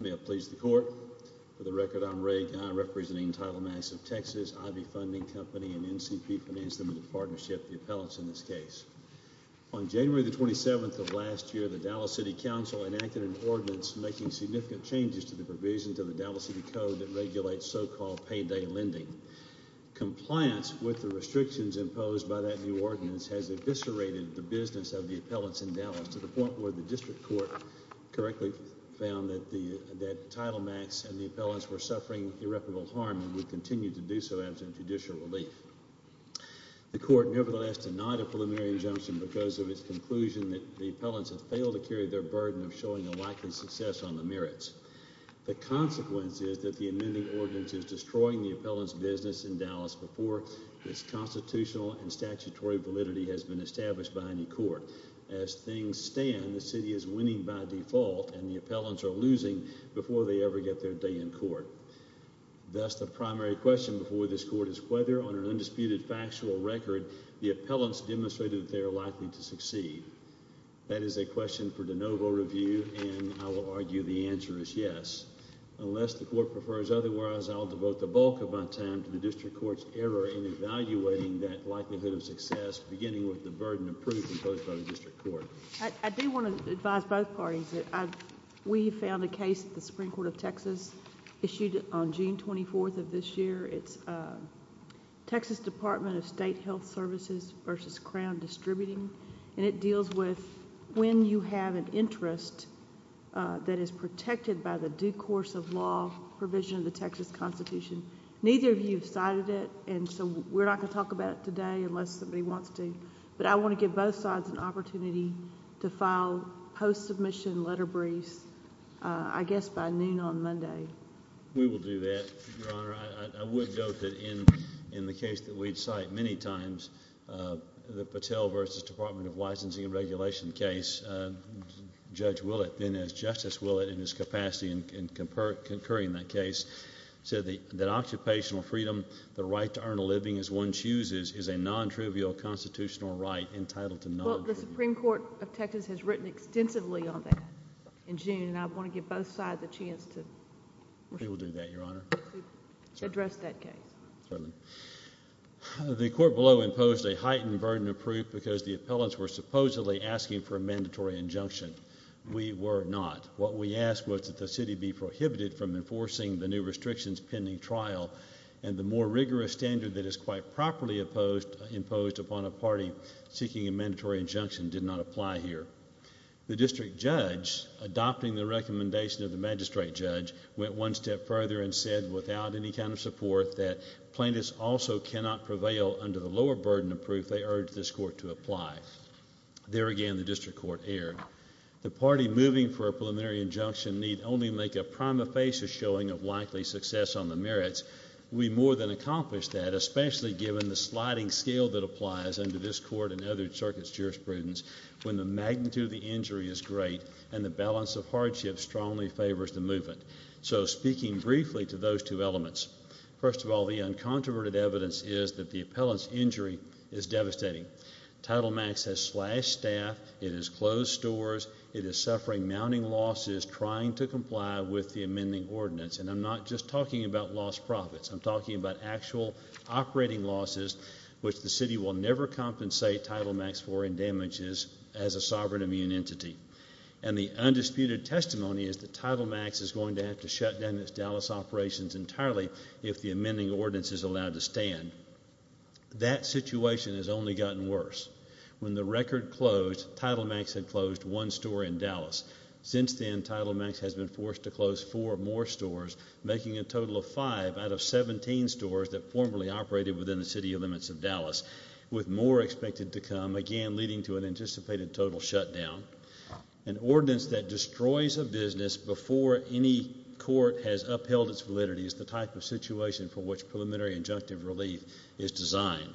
May it please the court. For the record, I'm Ray Gunn representing TitleMax of Texas, IB Funding Company and NCP Finance Limited Partnership, the appellants in this case. On January the 27th of last year, the Dallas City Council enacted an ordinance making significant changes to the provisions of the Dallas City Code that regulates so-called payday lending. Compliance with the restrictions imposed by that new ordinance has eviscerated the business of the appellants in Dallas to the point where the district court correctly found that TitleMax and the appellants were suffering irreparable harm and would continue to do so after judicial relief. The court nevertheless denied a preliminary injunction because of its conclusion that the appellants have failed to carry their burden of showing a likely success on the merits. The consequence is that the amending ordinance is destroying the appellant's business in Dallas before its constitutional and statutory validity has been established by any court. As things stand, the city is winning by default and the appellants are losing before they ever get their day in court. Thus, the primary question before this court is whether on an undisputed factual record the appellants demonstrated they are likely to succeed. That is a question for de novo review and I will argue the answer is yes. Unless the court prefers otherwise, I'll devote the bulk of my time to the district court's error in evaluating that likelihood of success beginning with the burden of proof imposed by the district court. I do want to advise both parties that we found a case at the Supreme Court of Texas issued on June 24th of this year. It's Texas Department of State Health Services versus Crown Distributing and it deals with when you have an interest that is protected by the due course of law provision of the Texas Constitution. Neither of you have cited it and so we're not going to talk about it today unless somebody wants to, but I want to give both sides an opportunity to file post-submission letter briefs I guess by noon on Monday. We will do that, Your Honor. I would note that in the case that we'd cite many times, the Patel versus Department of Licensing and Regulation case, Judge Willett, then as Justice Willett in his capacity in concurring that case, said that occupational freedom, the right to earn a living as one chooses, is a non-trivial constitutional right entitled to non-trivial... Well, the Supreme Court of Texas has written extensively on that in June and I want to give both sides a chance to... We will do that, Your Honor... to address that case. Certainly. The court below imposed a heightened burden of proof because the appellants were supposedly asking for a mandatory injunction. We were not. What we asked was that the city be prohibited from enforcing the new restrictions pending trial and the more rigorous standard that is quite properly imposed upon a party seeking a mandatory injunction did not apply here. The district judge, adopting the recommendation of the magistrate judge, went one step further and said without any kind of support that plaintiffs also cannot prevail under the burden of proof they urge this court to apply. There again, the district court erred. The party moving for a preliminary injunction need only make a prima facie showing of likely success on the merits. We more than accomplished that, especially given the sliding scale that applies under this court and other circuits' jurisprudence when the magnitude of the injury is great and the balance of hardship strongly favors the movement. So, speaking briefly to those two elements, first of all, the uncontroverted evidence is that the appellant's injury is devastating. Title Max has slashed staff. It has closed stores. It is suffering mounting losses trying to comply with the amending ordinance and I'm not just talking about lost profits. I'm talking about actual operating losses which the city will never compensate Title Max for in damages as a sovereign immune entity and the undisputed testimony is that Title Max is going to have to shut down its Dallas operations entirely if the amending ordinance is allowed to stand. That situation has only gotten worse. When the record closed, Title Max had closed one store in Dallas. Since then, Title Max has been forced to close four more stores making a total of five out of 17 stores that formerly operated within the city limits of Dallas with more expected to come, again leading to an anticipated total shutdown. An ordinance that destroys a business before any court has upheld its validity is the type of situation for which preliminary injunctive relief is designed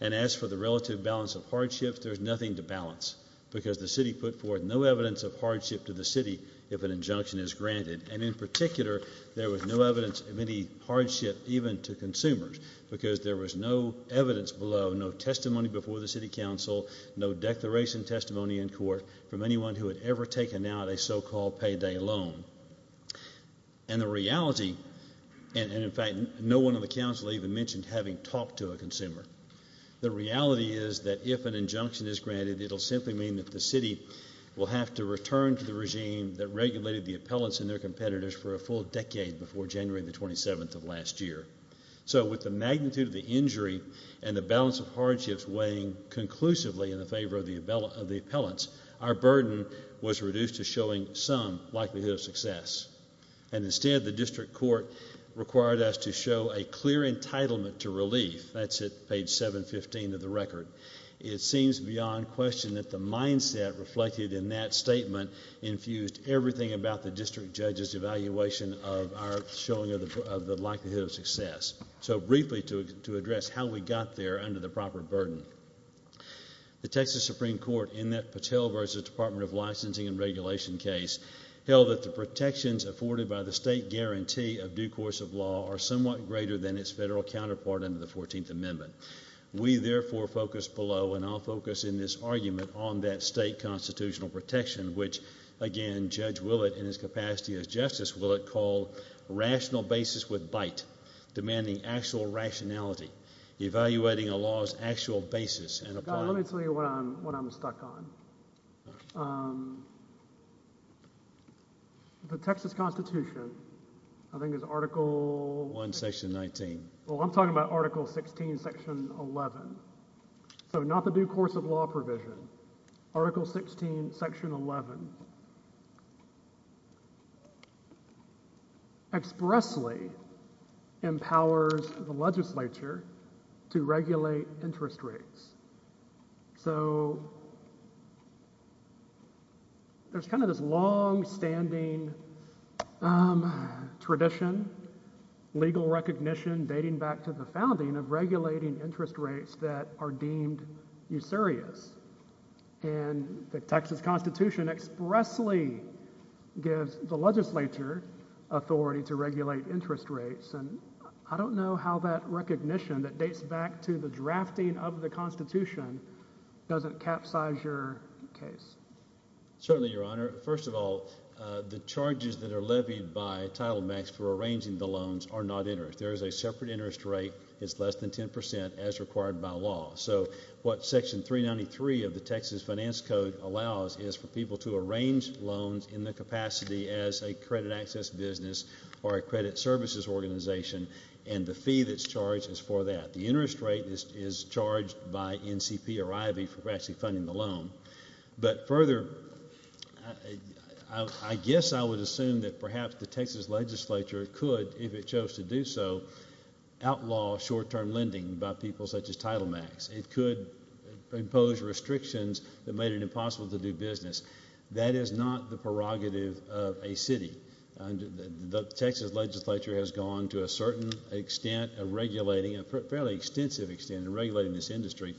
and as for the relative balance of hardship, there's nothing to balance because the city put forth no evidence of hardship to the city if an injunction is granted and in particular there was no evidence of any hardship even to consumers because there was no evidence below, no testimony before the city council, no declaration testimony in court from anyone who had ever taken out a so-called payday loan. And the reality, and in fact no one on the council even mentioned having talked to a consumer, the reality is that if an injunction is granted it'll simply mean that the city will have to return to the regime that regulated the appellants and their competitors for a full decade before January the 27th of last year. So with the magnitude of the injury and the balance of hardships weighing conclusively in the favor of the appellants, our burden was reduced to showing some likelihood of success and instead the district court required us to show a clear entitlement to relief. That's at page 715 of the record. It seems beyond question that the mindset reflected in that statement infused everything about the district judge's evaluation of our of the likelihood of success. So briefly to address how we got there under the proper burden. The Texas Supreme Court in that Patel versus Department of Licensing and Regulation case held that the protections afforded by the state guarantee of due course of law are somewhat greater than its federal counterpart under the 14th amendment. We therefore focus below and I'll focus in this argument on that state constitutional protection which again Judge in his capacity as justice will it call rational basis with bite demanding actual rationality evaluating a law's actual basis and apply. Let me tell you what I'm stuck on. The Texas Constitution I think is article one section 19. Well I'm talking about article 16 section 11. So not the due course of law provision. Article 16 section 11 expressly empowers the legislature to regulate interest rates. So there's kind of this long-standing tradition legal recognition dating back to the founding of regulating interest rates that are deemed usurious and the Texas Constitution expressly gives the legislature authority to regulate interest rates and I don't know how that recognition that dates back to the drafting of the Constitution doesn't capsize your case. Certainly your honor. First of all the charges that are levied by Title Max for arranging the loans are not interest. There is a separate interest rate it's less than 10 percent as required by law. So what section 393 of the Texas finance code allows is for people to arrange loans in the capacity as a credit access business or a credit services organization and the fee that's charged is for that. The interest rate is charged by NCP or IV for actually funding the loan. But further I guess I would assume that perhaps the Texas legislature could if it chose to do so outlaw short-term lending by people such as Title Max. It could impose restrictions that made it impossible to do business. That is not the prerogative of a city. The Texas legislature has gone to a certain extent of regulating a fairly extensive extent in regulating this industry.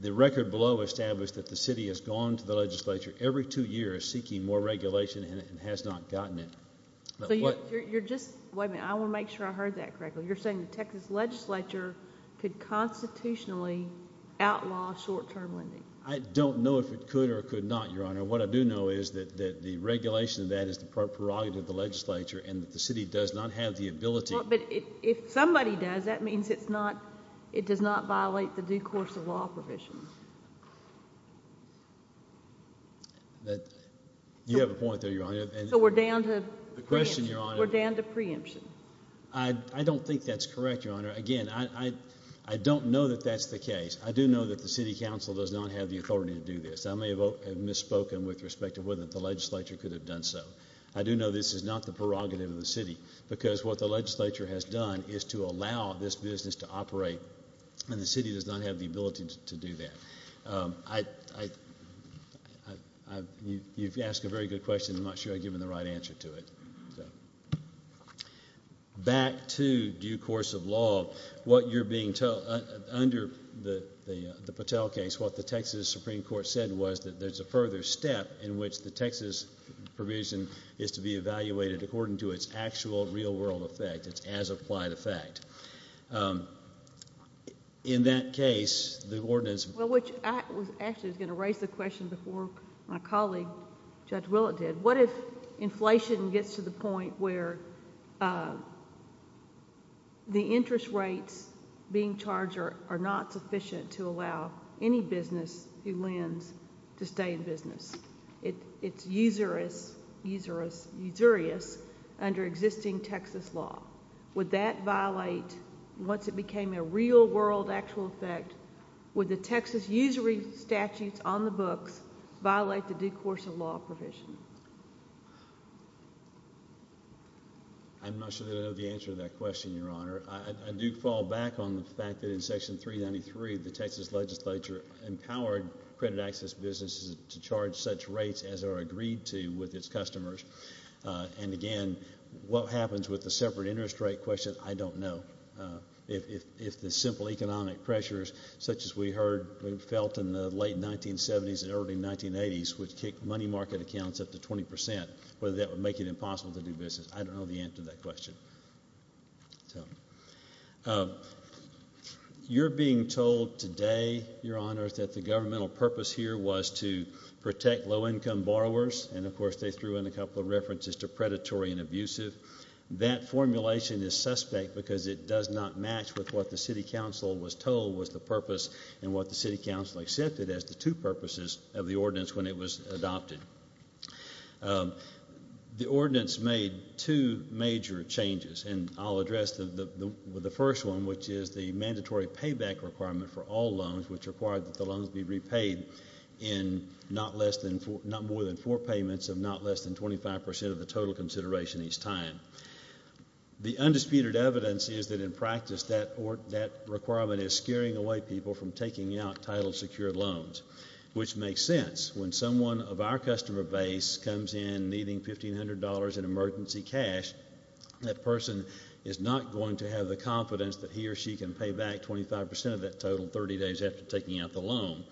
The record below established that the city has gone to the legislature every two years seeking more regulation and has not gotten it. So you're just wait a minute I want to make sure I heard that correctly. You're saying the Texas legislature could constitutionally outlaw short-term lending. I don't know if it could or could not your honor. What I do know is that that the regulation of that is the prerogative of the it does not violate the due course of law provision. That you have a point there your honor. So we're down to the question your honor. We're down to preemption. I don't think that's correct your honor. Again I don't know that that's the case. I do know that the city council does not have the authority to do this. I may have misspoken with respect to whether the legislature could have done so. I do know this is not the and the city does not have the ability to do that. You've asked a very good question. I'm not sure I've given the right answer to it. Back to due course of law what you're being told under the the Patel case what the Texas Supreme Court said was that there's a further step in which the Texas provision is to be in that case the ordinance. Well which I was actually going to raise the question before my colleague Judge Willett did. What if inflation gets to the point where the interest rates being charged are not sufficient to allow any business who lends to stay in business. It's usurious under existing Texas law. Would that violate once it became a real world actual effect would the Texas usury statutes on the books violate the due course of law provision? I'm not sure that I know the answer to that question your honor. I do fall back on the fact that in section 393 the Texas legislature empowered credit access businesses to charge such rates as are agreed to with its customers. And again what happens with the separate interest rate question I don't know. If the simple economic pressures such as we heard we felt in the late 1970s and early 1980s would kick money market accounts up to 20 percent whether that would make it impossible to do business. I don't know the answer to that question. You're being told today your honor that the governmental purpose here was to protect low income borrowers and of course they threw in a couple of references to predatory and abusive. That formulation is suspect because it does not match with what the city council was told was the purpose and what the city council accepted as the two purposes of the ordinance when it was adopted. The ordinance made two major changes and I'll address the first one which is the mandatory payback requirement for all loans which required that the loans be repaid in not less than not more than four payments of not less than 25 percent of the total consideration each time. The undisputed evidence is that in practice that or that requirement is scaring away people from taking out title secured loans which makes sense when someone of our customer base comes in needing 1500 dollars in emergency cash that person is not going to have the confidence that he or she can pay back 25 percent of that total 30 days after taking out the loan.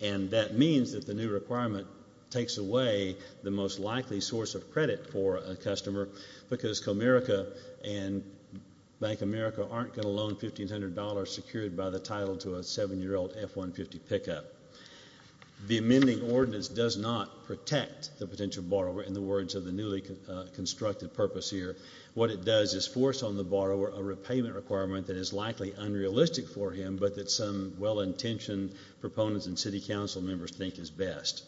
And that means that the new requirement takes away the most likely source of credit for a customer because Comerica and Bank America aren't going to loan 1500 dollars secured by the title to a seven-year-old F-150 pickup. The amending ordinance does not protect the potential borrower in the words of the newly constructed purpose here. What it does is force on the borrower a repayment requirement that is likely unrealistic for him but that some well-intentioned proponents and city council members think is best.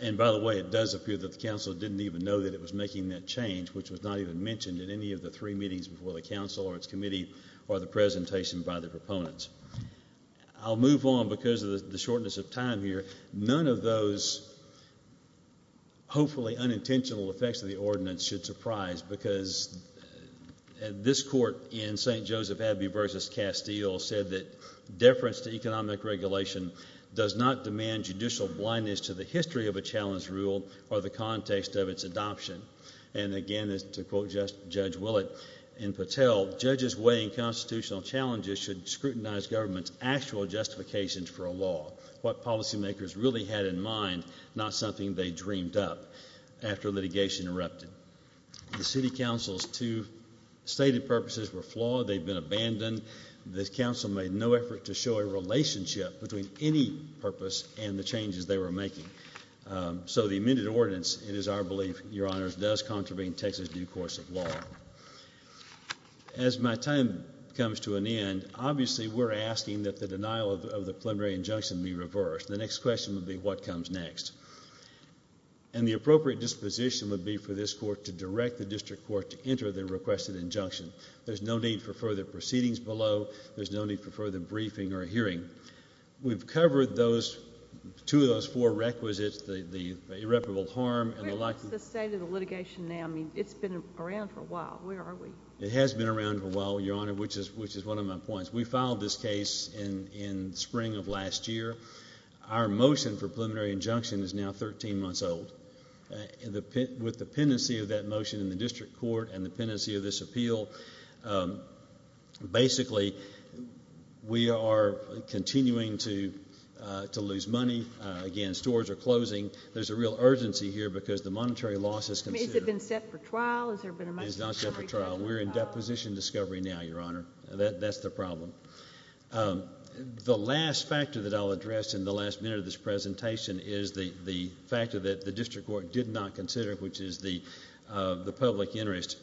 And by the way it does appear that the council didn't even know that it was making that change which was not even mentioned in any of the three meetings before the council or its committee or the presentation by the proponents. I'll move on because of the shortness of time here. None of those hopefully unintentional effects of the ordinance should surprise because this court in St. Joseph Abbey versus Castile said that deference to economic regulation does not demand judicial blindness to the history of a challenge rule or the context of its adoption. And again as to quote Judge Willett and Patel, judges weighing constitutional challenges should scrutinize government's actual justifications for a law, what policymakers really had in mind not something they dreamed up after litigation erupted. The city council's two stated purposes were flawed. They've been abandoned. This council made no effort to amend the ordinance and it is our belief, your honors, does contravene Texas due course of law. As my time comes to an end, obviously we're asking that the denial of the preliminary injunction be reversed. The next question would be what comes next. And the appropriate disposition would be for this court to direct the district court to enter the requested injunction. There's no need for further proceedings below. There's no need for further briefing or hearing. We've covered those two of those four requisites, the irreparable harm and the like. Where is the state of the litigation now? I mean it's been around for a while. Where are we? It has been around for a while, your honor, which is which is one of my points. We filed this case in in spring of last year. Our motion for preliminary injunction is now 13 months old. With the pendency of that motion in place, basically we are continuing to lose money. Again, stores are closing. There's a real urgency here because the monetary loss has been set for trial. We're in deposition discovery now, your honor. That's the problem. The last factor that I'll address in the last minute of this presentation is the the factor that the district court did not consider, which is the public interest.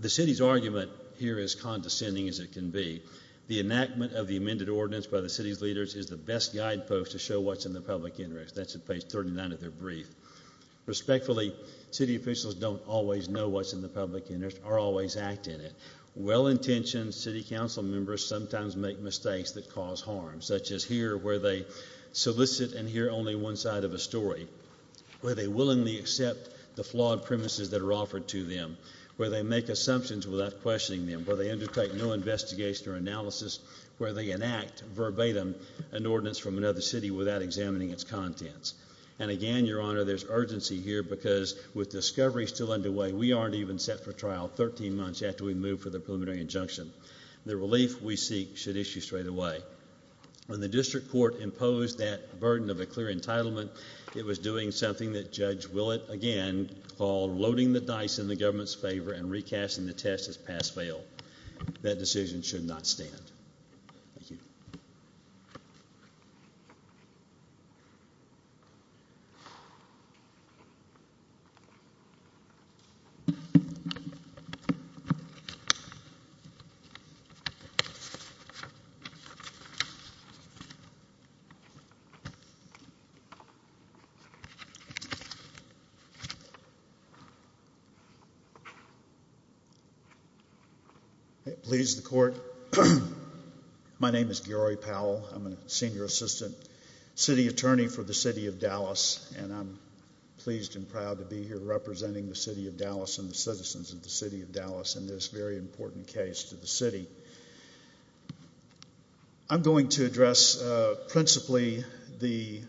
The city's argument here is condescending as it can be. The enactment of the amended ordinance by the city's leaders is the best guidepost to show what's in the public interest. That's at page 39 of their brief. Respectfully, city officials don't always know what's in the public interest or always act in it. Well-intentioned city council members sometimes make mistakes that cause harm, such as here where they solicit and hear only one side of a story, where they make assumptions without questioning them, where they undertake no investigation or analysis, where they enact verbatim an ordinance from another city without examining its contents. And again, your honor, there's urgency here because with discovery still underway, we aren't even set for trial 13 months after we move for the preliminary injunction. The relief we seek should issue straight away. When the district court imposed that burden of a clear entitlement, it was doing something that Judge Willett, again, called loading the dice in the government's favor and recasting the test as pass-fail. That decision should not stand. Thank you. I please the court. My name is Gary Powell. I'm a senior assistant city attorney for the city of Dallas, and I'm pleased and proud to be here representing the city of Dallas and the citizens of the city of Dallas in this very important case to the city. I'm going to address principally the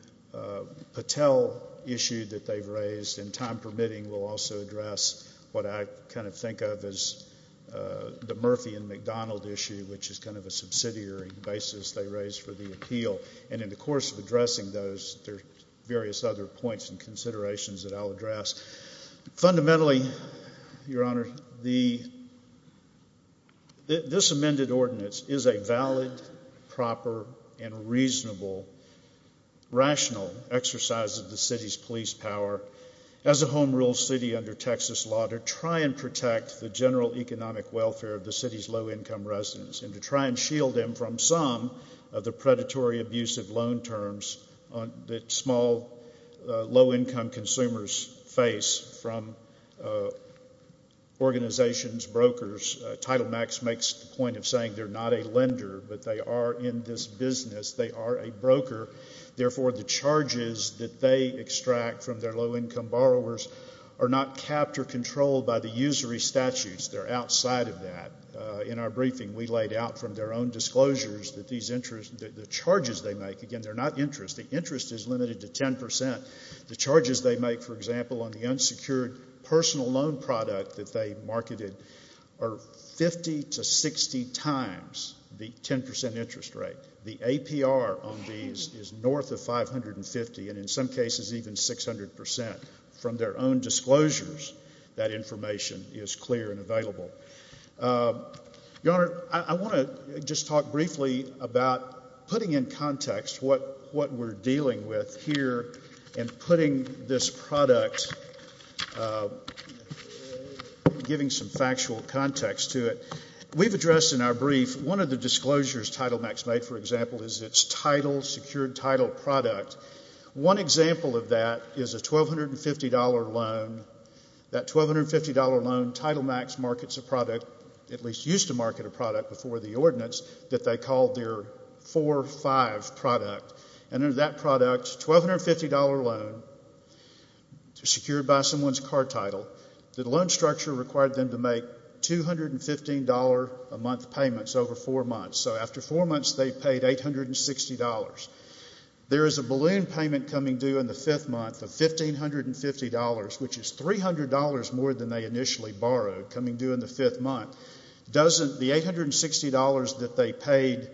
Patel issue that they've raised, and time permitting, we'll also address what I kind of think of as the Murphy and McDonald issue, which is kind of a subsidiary basis they raised for the appeal. And in the course of addressing those, there's various other points and considerations that I'll address. Fundamentally, your honor, this amended ordinance is a valid, proper, and reasonable, rational exercise of the city's police power as a home rule city under Texas law to try and protect the general economic welfare of the city's low-income residents and to try and shield them from some of the predatory, abusive loan terms that small, low-income consumers face from organizations, brokers. Title Max makes the point of saying they're not a lender, but they are in this business. They are a broker. Therefore, the charges that they extract from their low-income borrowers are not capped or controlled by the usury statutes. They're outside of that. In our briefing, we laid out from their own disclosures that the charges they make, again, they're not interest. The interest is limited to 10%. The charges they make, for example, on the unsecured personal loan product that they marketed, are 50 to 60 times the 10% interest rate. The APR on these is north of 550, and in some cases, even 600%. From their own disclosures, that information is clear and available. Your honor, I want to just talk briefly about putting in context what we're dealing with here and putting this product, giving some factual context to it. We've addressed in our brief, one of the disclosures Title Max made, for example, is its title, secured title product. One example of that is a $1,250 loan. That $1,250 loan, Title Max markets a product, at least used to market a product before the ordinance, that they called their 4-5 product. Under that product, $1,250 loan, secured by someone's car title, the loan structure required them to make $215 a month payments over four months. After four months, they paid $860. There is a balloon payment coming due in the fifth month of $1,550, which is $300 more than they initially borrowed, coming due in the fifth month. The $860 that they paid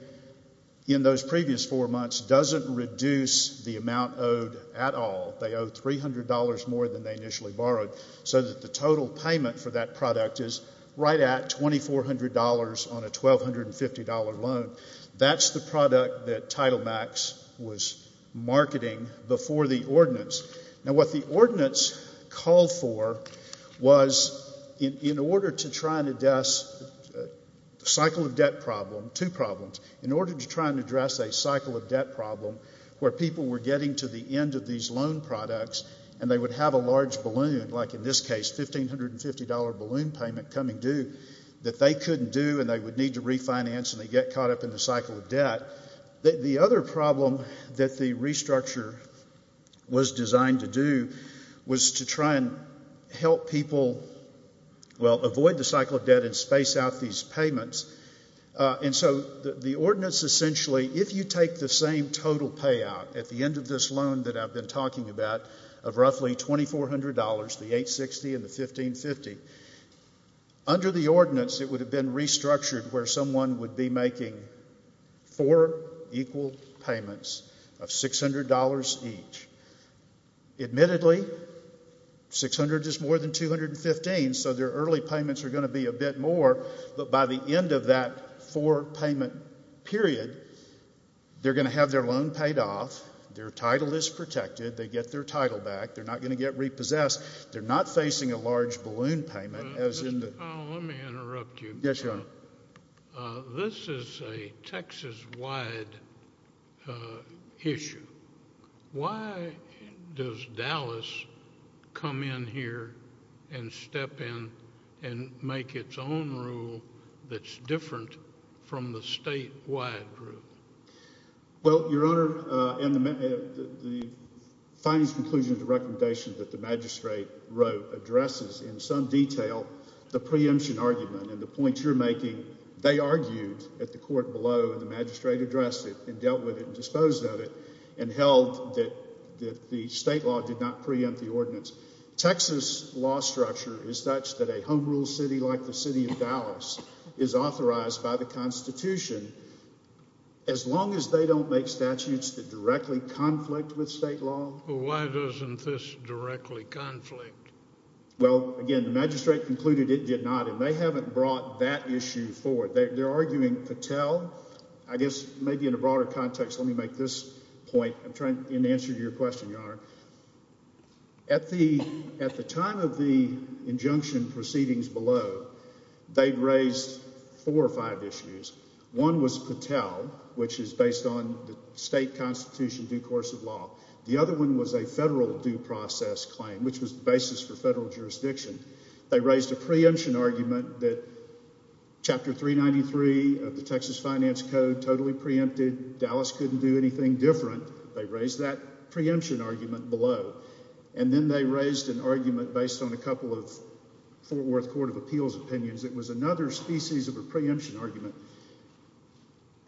in those previous four months doesn't reduce the amount owed at all. They owe $300 more than they initially borrowed, so that the total payment for that product is right at $2,400 on a $1,250 loan. That's the product that Title Max was marketing before the ordinance. What the ordinance called for was, in order to try and address a cycle of debt problem, where people were getting to the end of these loan products and they would have a large balloon, like in this case, $1,550 balloon payment coming due, that they couldn't do and they would need to refinance and they'd get caught up in the cycle of debt. The other problem that the restructure was designed to do was to try and help people, well, avoid the cycle of debt and space out these payments. And so the ordinance essentially, if you take the same total payout at the end of this loan that I've been talking about of roughly $2,400, the $860 and the $1,550, under the ordinance it would have been restructured where someone would be making four equal payments of $600 each. Admittedly, $600 is more than $215, so their early payments are going to be a bit more, but by the end of that four payment period, they're going to have their loan paid off, their title is protected, they get their title back, they're not going to get repossessed, they're not facing a large balloon payment. Mr. Powell, let me interrupt you. Yes, Your Honor. This is a Texas-wide issue. Why does Dallas come in here and step in and make its own rule that's different from the statewide rule? Well, Your Honor, in the findings, conclusions, recommendations that the magistrate wrote addresses in some detail the preemption argument and the point you're making, they argued at the court below and the magistrate addressed it and dealt with it and disposed of it and held that the state law did not preempt the ordinance. Texas law structure is such that a home rule city like the city of Dallas is authorized by the Constitution. As long as they don't make statutes that directly conflict with state law. Well, why doesn't this directly conflict? Well, again, the magistrate concluded it did not and they haven't brought that issue forward. They're arguing Patel, I guess maybe in a broader context, let me make this point in answer to your question, Your Honor. At the time of the injunction proceedings below, they've raised four or five issues. One was Patel, which is based on state constitution due course of law. The other one was a federal due process claim, which was the basis for federal jurisdiction. They raised a preemption argument that chapter 393 of the Texas Finance Code totally preempted. Dallas couldn't do anything different. They raised that preemption argument below and then they raised an argument based on a couple of Fort Worth Court of Appeals opinions. It was another species of a preemption argument.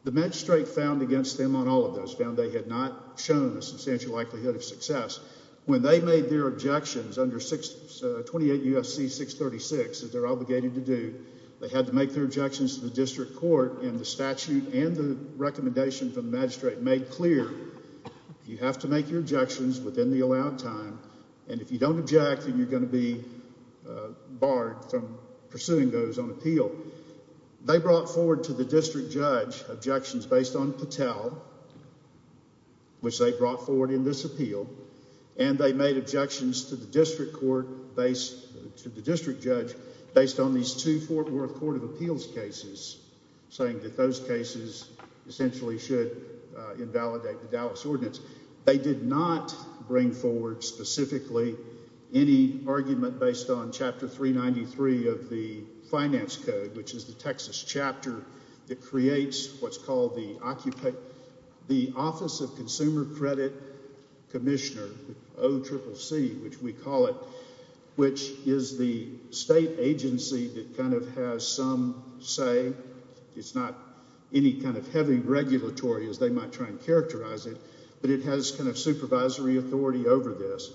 The magistrate found against them on all of those, found they had not shown a substantial likelihood of success. When they made their objections under 28 U.S.C. 636 that they're obligated to do, they had to make their objections to the district court and the statute and the recommendation from the magistrate made clear you have to make your objections within the allowed time and if you don't object, then you're going to be barred from pursuing those on appeal. They brought forward to Patel, which they brought forward in this appeal, and they made objections to the district court based to the district judge based on these two Fort Worth Court of Appeals cases, saying that those cases essentially should invalidate the Dallas ordinance. They did not bring forward specifically any argument based on chapter 393 of the Finance Code, which is the Office of Consumer Credit Commissioner, OCCC, which we call it, which is the state agency that kind of has some say. It's not any kind of heavy regulatory as they might try and characterize it, but it has kind of supervisory authority over this.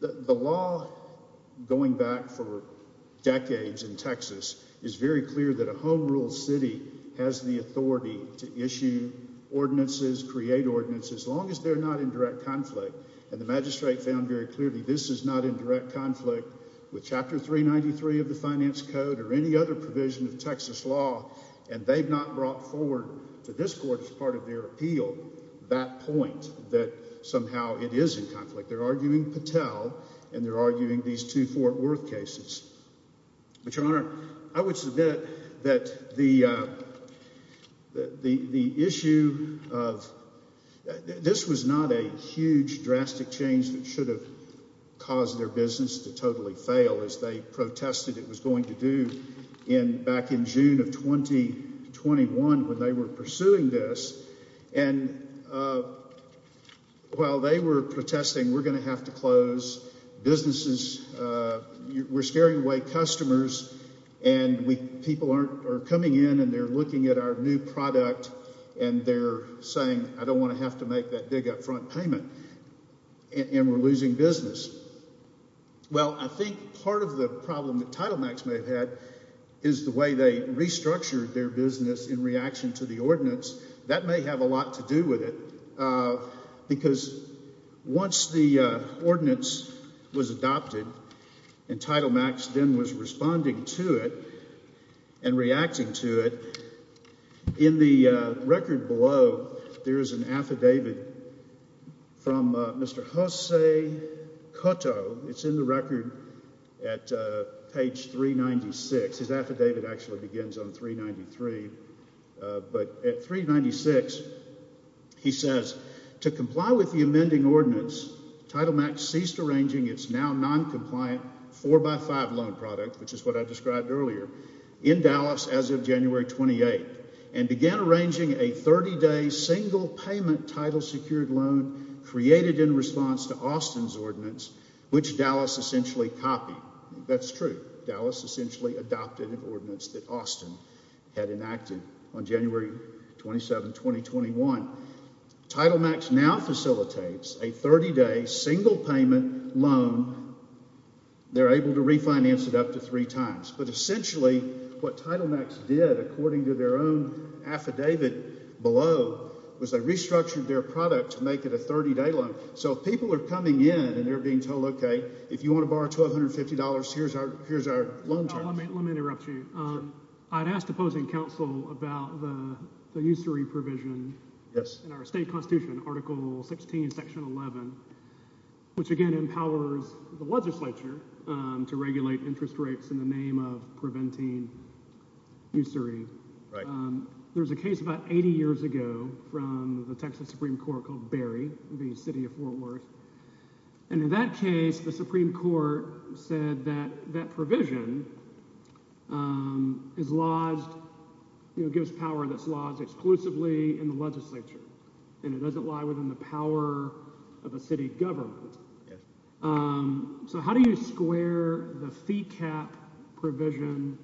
The law, going back for decades in Texas, is very clear that a home-ruled city has the authority to issue ordinances, create ordinances, as long as they're not in direct conflict and the magistrate found very clearly this is not in direct conflict with chapter 393 of the Finance Code or any other provision of Texas law and they've not brought forward to this court as part of their appeal that point that somehow it is in conflict. They're arguing Patel and they're arguing these two Fort Worth cases. But, Your Honor, I would submit that the issue of this was not a huge drastic change that should have caused their business to totally fail, as they protested it was going to do back in June of 2021 when they were pursuing this. And while they were protesting, we're going to have to close businesses. We're scaring away customers and we people aren't are coming in and they're looking at our new product and they're saying I don't want to have to make that big upfront payment and we're losing business. Well, I think part of the problem that Title Max may have had is the way they restructured their business in reaction to the ordinance. That may have a lot to do with it because once the ordinance was adopted and Title Max then was responding to it and reacting to it. In the record below, there is an affidavit from Mr. Jose Cotto. It's in the record. He says, to comply with the amending ordinance, Title Max ceased arranging its now non-compliant four-by-five loan product, which is what I described earlier, in Dallas as of January 28th and began arranging a 30-day single payment title secured loan created in response to Austin's ordinance, which Dallas essentially copied. That's true. Dallas essentially adopted an ordinance that Austin had enacted on January 27, 2021. Title Max now facilitates a 30-day single payment loan. They're able to refinance it up to three times, but essentially what Title Max did, according to their own affidavit below, was they restructured their product to make it a 30-day loan. So if people are coming in and they're being told, okay, if you want to borrow $1,250, here's our loan terms. Let me interrupt you. I'd asked opposing counsel about the usury provision in our state constitution, Article 16, Section 11, which again empowers the legislature to regulate interest rates in the name of preventing usury. There was a case about 80 years ago from the Texas Supreme Court called Berry, the city of Fort Worth, and in that case, the Supreme Court said that that provision gives power that's lodged exclusively in the legislature and it doesn't lie within the power of a city government. So how do you square the fee cap provision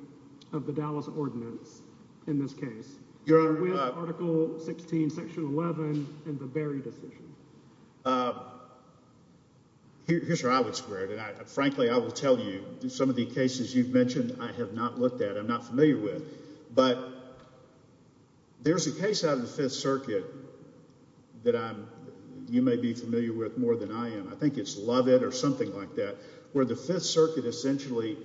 of the Dallas ordinance in this case? You're with Article 16, Section 11, and the Berry decision. Here's where I would square it, and frankly, I will tell you some of the cases you've mentioned I have not looked at, I'm not familiar with, but there's a case out of the Fifth Circuit that you may be familiar with more than I am. I think it's Lovett or something like that, where the Fifth Circuit essentially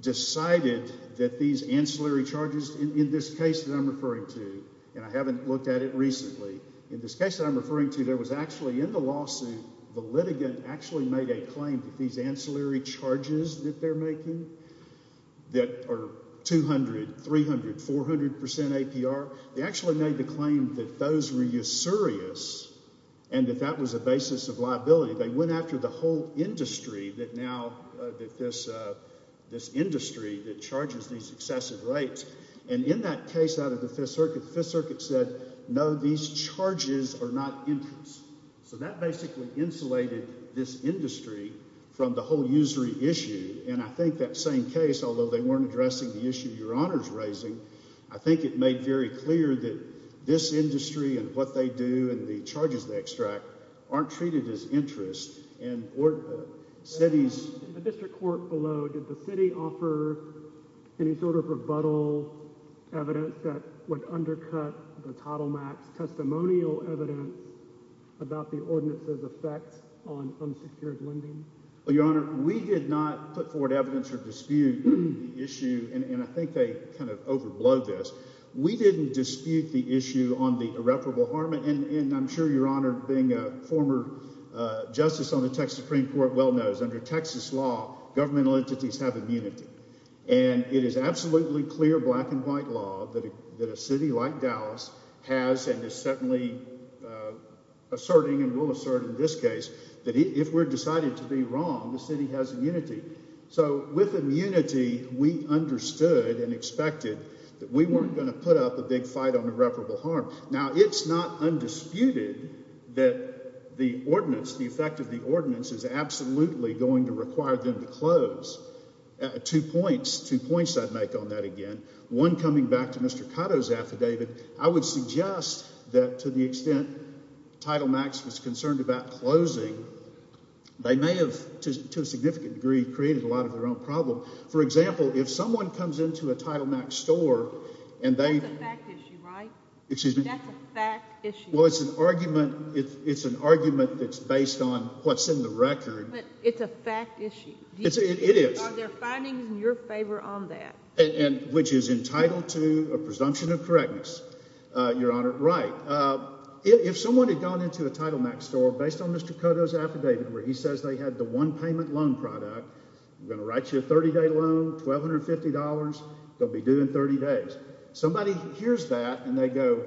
decided that these ancillary charges in this case that I'm referring to, and I haven't looked at it recently, in this case that I'm referring to, there was actually in the lawsuit, the litigant actually made a claim that these ancillary charges that they're making that are 200, 300, 400 percent APR, they actually made the claim that those were usurious and that that was a basis of liability. They went after the this industry that charges these excessive rates, and in that case out of the Fifth Circuit, the Fifth Circuit said, no, these charges are not interest. So that basically insulated this industry from the whole usury issue, and I think that same case, although they weren't addressing the issue Your Honor's raising, I think it made very clear that this industry and what they do and the charges they extract aren't treated as interest. In the district court below, did the city offer any sort of rebuttal evidence that would undercut the Title Max testimonial evidence about the ordinance's effects on unsecured lending? Your Honor, we did not put forward evidence or dispute the issue, and I think they kind of overblowed this. We didn't dispute the issue on the irreparable harm, and I'm sure Your Honor, being a former justice on the Texas Supreme Court, well knows under Texas law, governmental entities have immunity, and it is absolutely clear black and white law that a city like Dallas has and is certainly asserting and will assert in this case that if we're decided to be wrong, the city has immunity. So with immunity, we understood and expected that we weren't going to put up a big fight on irreparable harm. Now, it's not undisputed that the ordinance, the effect of the ordinance, is absolutely going to require them to close. Two points, two points I'd make on that again. One coming back to Mr. Cotto's affidavit, I would suggest that to the extent Title Max was concerned about closing, they may have, to a significant degree, created a lot of their own problem. For example, if someone comes into a Title Max store and they... That's a fact issue, right? Excuse me? That's a fact issue. Well, it's an argument, it's an argument that's based on what's in the record. But it's a fact issue. It is. Are there findings in your favor on that? And which is entitled to a presumption of correctness, Your Honor. Right. If someone had gone into a Title Max store based on Mr. Cotto's affidavit, where he says they had the one payment loan product, I'm going to write you a 30-day loan, $1,250, they'll be due in 30 days. Somebody hears that and they go,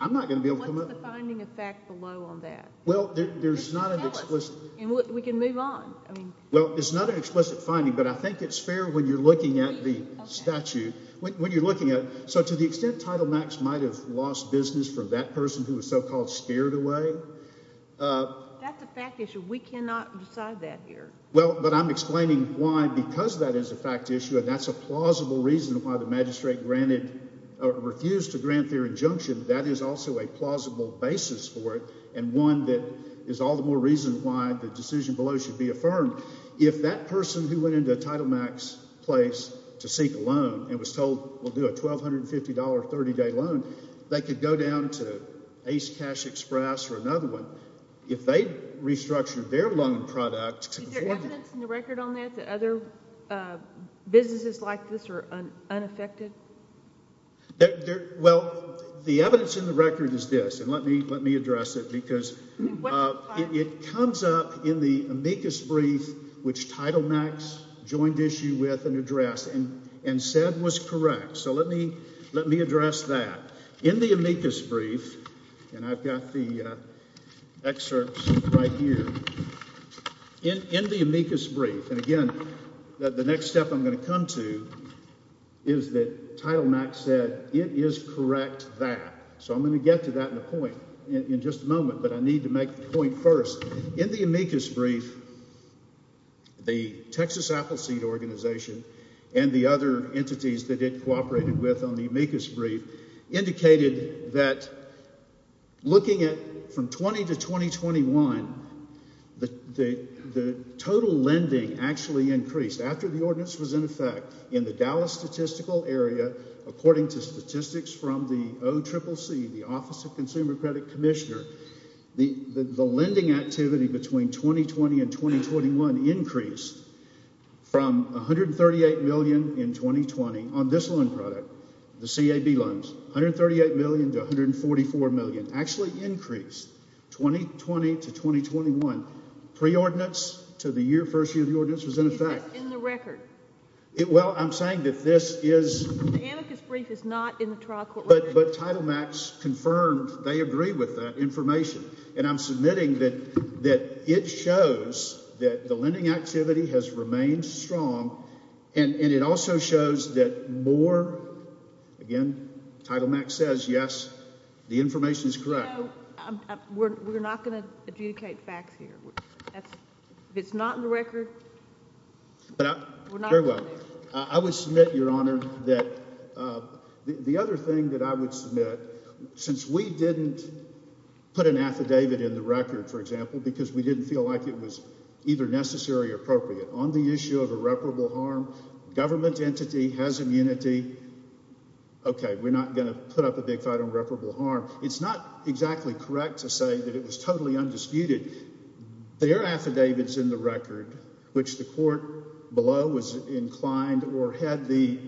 I'm not going to be able to come up... What's the finding of fact below on that? Well, there's not an explicit... Tell us and we can move on. Well, it's not an explicit finding, but I think it's fair when you're looking at the statute, when you're looking at... So, to the extent Title Max might have lost business for that person who was so-called scared away, that's a fact issue. We cannot decide that here. Well, but I'm explaining why, because that is a fact issue and that's a plausible reason why the magistrate refused to grant their injunction, that is also a plausible basis for it and one that is all the more reason why the decision below should be affirmed. If that person who went into a Title Max place to seek a loan and was told we'll do a $1,250 30-day loan, they could go down to Ace Cash Express or another one. If they restructured their loan product... Is there evidence in the record on that that other businesses like this are unaffected? Well, the evidence in the record is this, and let me address it, because it comes up in the amicus brief which Title Max joined issue with and and said was correct. So, let me address that. In the amicus brief, and I've got the excerpts right here. In the amicus brief, and again, the next step I'm going to come to is that Title Max said it is correct that. So, I'm going to get to that in a point in just a moment, but I need to make the point first. In the amicus brief, the Texas Appleseed Organization and the other entities that it cooperated with on the amicus brief indicated that looking at from 20 to 2021, the total lending actually increased. After the ordinance was in effect in the Dallas statistical area, according to statistics from the OCCC, the Office of Consumer Credit Commissioner, the lending activity between 2020 and 2021 increased from $138 million in 2020 on this loan product, the CAB loans, $138 million to $144 million, actually increased 2020 to 2021. Pre-ordinance to the first year of the ordinance was in effect. Is that in the record? Well, I'm saying that this is... The amicus brief is not in the trial court record. But Title Max confirmed they agree with that information, and I'm submitting that it shows that the lending activity has remained strong, and it also shows that more, again, Title Max says, yes, the information is correct. We're not going to adjudicate facts here. If it's not in the record, we're not going to. I would submit, Your Honor, that the other thing that I would submit, since we didn't put an affidavit in the record, for example, because we didn't feel like it was either necessary or appropriate on the issue of irreparable harm, government entity has immunity. Okay, we're not going to put up a big fight on reparable harm. It's not exactly correct to say that it was totally undisputed. Their affidavits in the record, which the court below was inclined or had the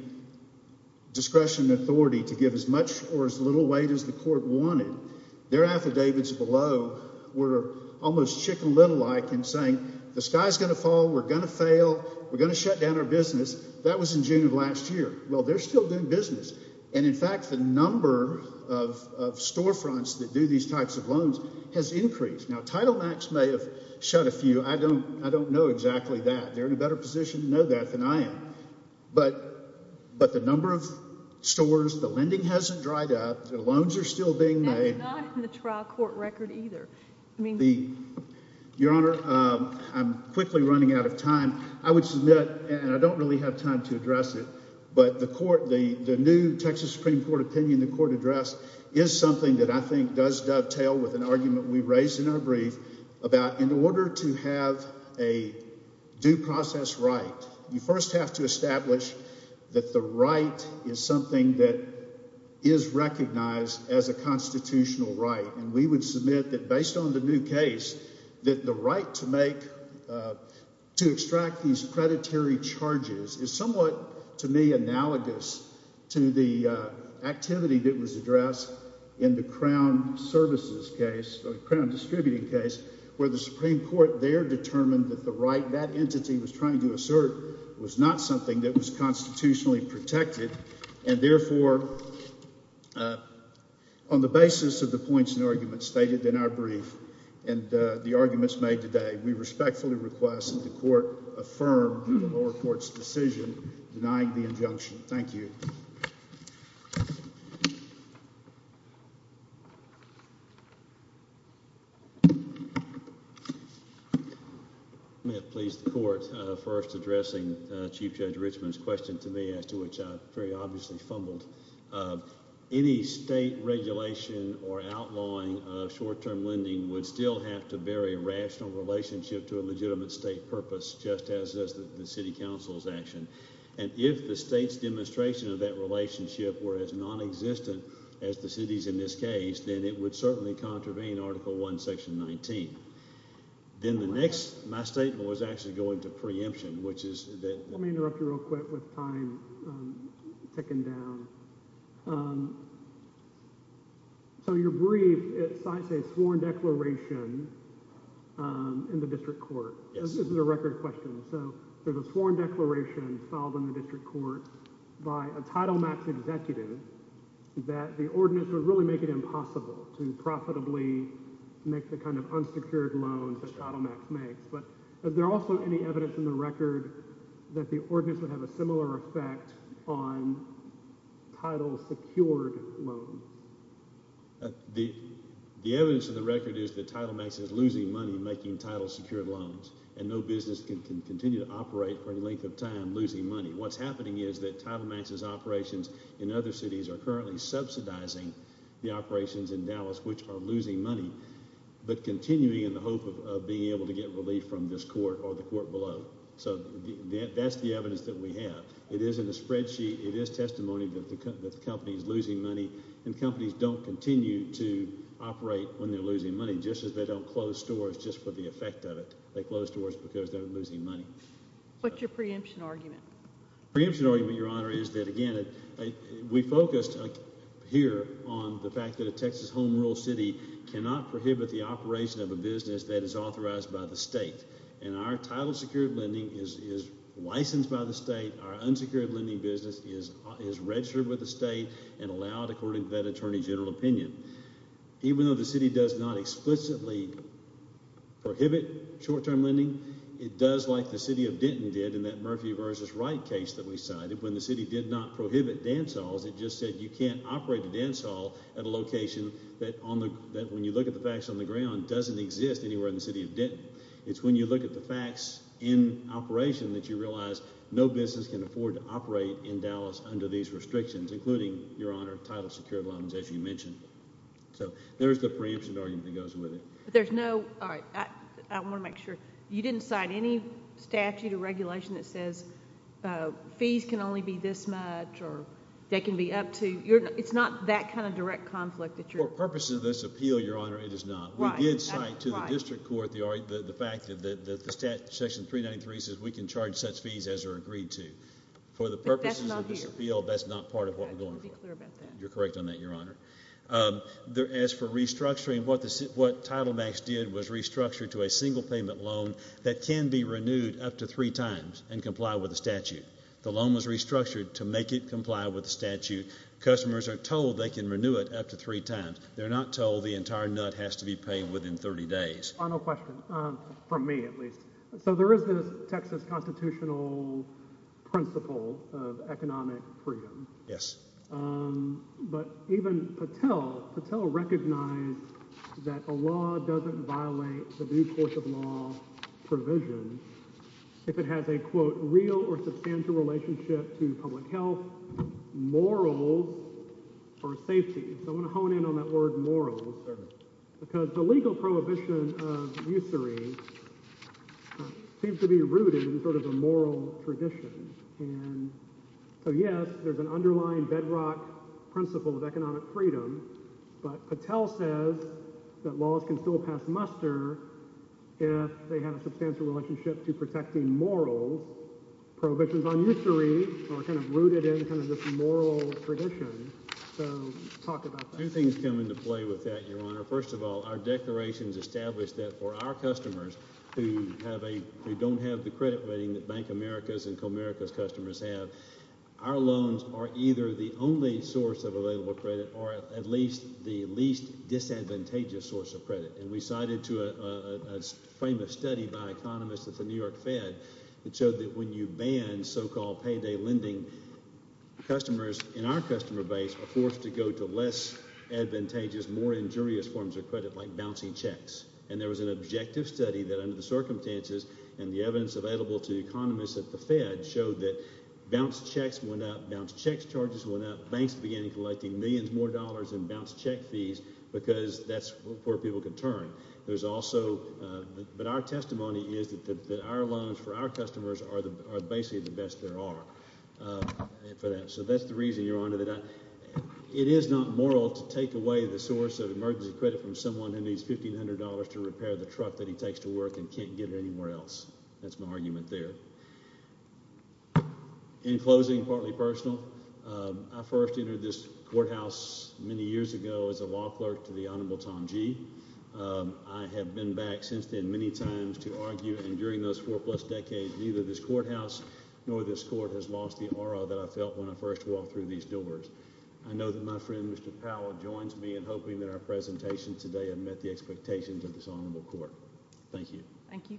discretion and authority to give as much or as little weight as the court wanted, their affidavits below were almost chicken little-like in saying the sky's going to fall, we're going to fail, we're going to shut down our business. That was in June of last year. Well, they're still doing business. And in fact, the number of storefronts that do these types of has increased. Now, Title Max may have shut a few. I don't know exactly that. They're in a better position to know that than I am. But the number of stores, the lending hasn't dried up, the loans are still being made. That's not in the trial court record either. Your Honor, I'm quickly running out of time. I would submit, and I don't really have time to address it, but the court, the new Texas Supreme Court opinion the court addressed is something that I think does dovetail with an argument we raised in our brief about in order to have a due process right, you first have to establish that the right is something that is recognized as a constitutional right. And we would submit that based on the new case, that the right to make, to extract these predatory charges is somewhat to me analogous to the activity that was addressed in the Crown Services case, the Crown Distributing case, where the Supreme Court there determined that the right that entity was trying to assert was not something that was constitutionally protected. And therefore, on the basis of the points and arguments stated in our brief and the arguments made today, we respectfully request that the court affirm the lower court's decision denying the injunction. Thank you. May it please the court, first addressing Chief Judge Richman's question to me, as to which I very obviously fumbled. Any state regulation or outlawing of short-term lending would still have to bear a rational relationship to a legitimate state purpose, just as the City Council's action. And if the state's demonstration of that relationship were as non-existent as the city's in this case, then it would certainly contravene Article I, Section 19. Then the next, my statement was actually going to preemption, which is that... Let me interrupt you real quick with time ticking down. So your brief, it cites a sworn declaration in the district court. This is a record question. So there's a sworn declaration filed in the district court by a Title Max executive that the ordinance would really make it impossible to profitably make the kind of unsecured loans that Title Max makes. But is there also any evidence in the record that the ordinance would have a similar effect on title-secured loans? The evidence in the record is that Title Max is continuing to operate for a length of time, losing money. What's happening is that Title Max's operations in other cities are currently subsidizing the operations in Dallas, which are losing money, but continuing in the hope of being able to get relief from this court or the court below. So that's the evidence that we have. It is in the spreadsheet. It is testimony that the company is losing money, and companies don't continue to operate when they're losing money, just as they don't close stores just for the effect of it. They close stores because they're losing money. What's your preemption argument? Preemption argument, Your Honor, is that, again, we focused here on the fact that a Texas home rural city cannot prohibit the operation of a business that is authorized by the state. And our title-secured lending is licensed by the state. Our unsecured lending business is registered with the state and allowed according to that explicitly prohibit short-term lending. It does like the city of Denton did in that Murphy vs. Wright case that we cited. When the city did not prohibit dance halls, it just said you can't operate the dance hall at a location that, when you look at the facts on the ground, doesn't exist anywhere in the city of Denton. It's when you look at the facts in operation that you realize no business can afford to operate in Dallas under these restrictions, including, Your Honor, title secured loans, as you mentioned. So there's the preemption argument that goes with it. There's no, all right, I want to make sure, you didn't cite any statute or regulation that says fees can only be this much or they can be up to, it's not that kind of direct conflict that you're For purposes of this appeal, Your Honor, it is not. We did cite to the district court the fact that the section 393 says we can charge such fees as are agreed to. For the purposes of this appeal, that's not part of what we're going for. You're correct on that, Your Honor. As for restructuring, what Title Max did was restructure to a single payment loan that can be renewed up to three times and comply with the statute. The loan was restructured to make it comply with the statute. Customers are told they can renew it up to three times. They're not told the entire nut has to be paid within 30 days. Final question, from me at least. So there is this Texas constitutional principle of economic freedom. Yes. But even Patel, Patel recognized that a law doesn't violate the due course of law provision if it has a quote real or substantial relationship to public health, morals, or safety. So I want to hone in on that word morals because the legal prohibition of traditions. And so yes, there's an underlying bedrock principle of economic freedom, but Patel says that laws can still pass muster if they have a substantial relationship to protecting morals. Prohibitions on usury are kind of rooted in kind of this moral tradition. So talk about that. Two things come into play with that, Your Honor. First of all, our declarations establish that our customers who don't have the credit rating that Bank of America's and Comerica's customers have, our loans are either the only source of available credit or at least the least disadvantageous source of credit. And we cited a famous study by economists at the New York Fed that showed that when you ban so-called payday lending, customers in our customer base are forced to go to less advantageous, more injurious forms of credit like bouncy checks. And there was an objective study that under the circumstances and the evidence available to economists at the Fed showed that bounce checks went up, bounce checks charges went up, banks began collecting millions more dollars in bounce check fees because that's where people can turn. There's also, but our testimony is that our loans for our customers are basically the best there are for that. So that's the reason, Your Honor, that it is not moral to take away the source of emergency credit from someone who needs $1,500 to repair the truck that he takes to work and can't get it anywhere else. That's my argument there. In closing, partly personal, I first entered this courthouse many years ago as a law clerk to the Honorable Tom G. I have been back since then many times to argue, and during those four plus decades, neither this courthouse nor this court has lost the aura that I felt when I first walked through these doors. I know that my presentation today have met the expectations of this Honorable Court. Thank you. Thank you, Kim.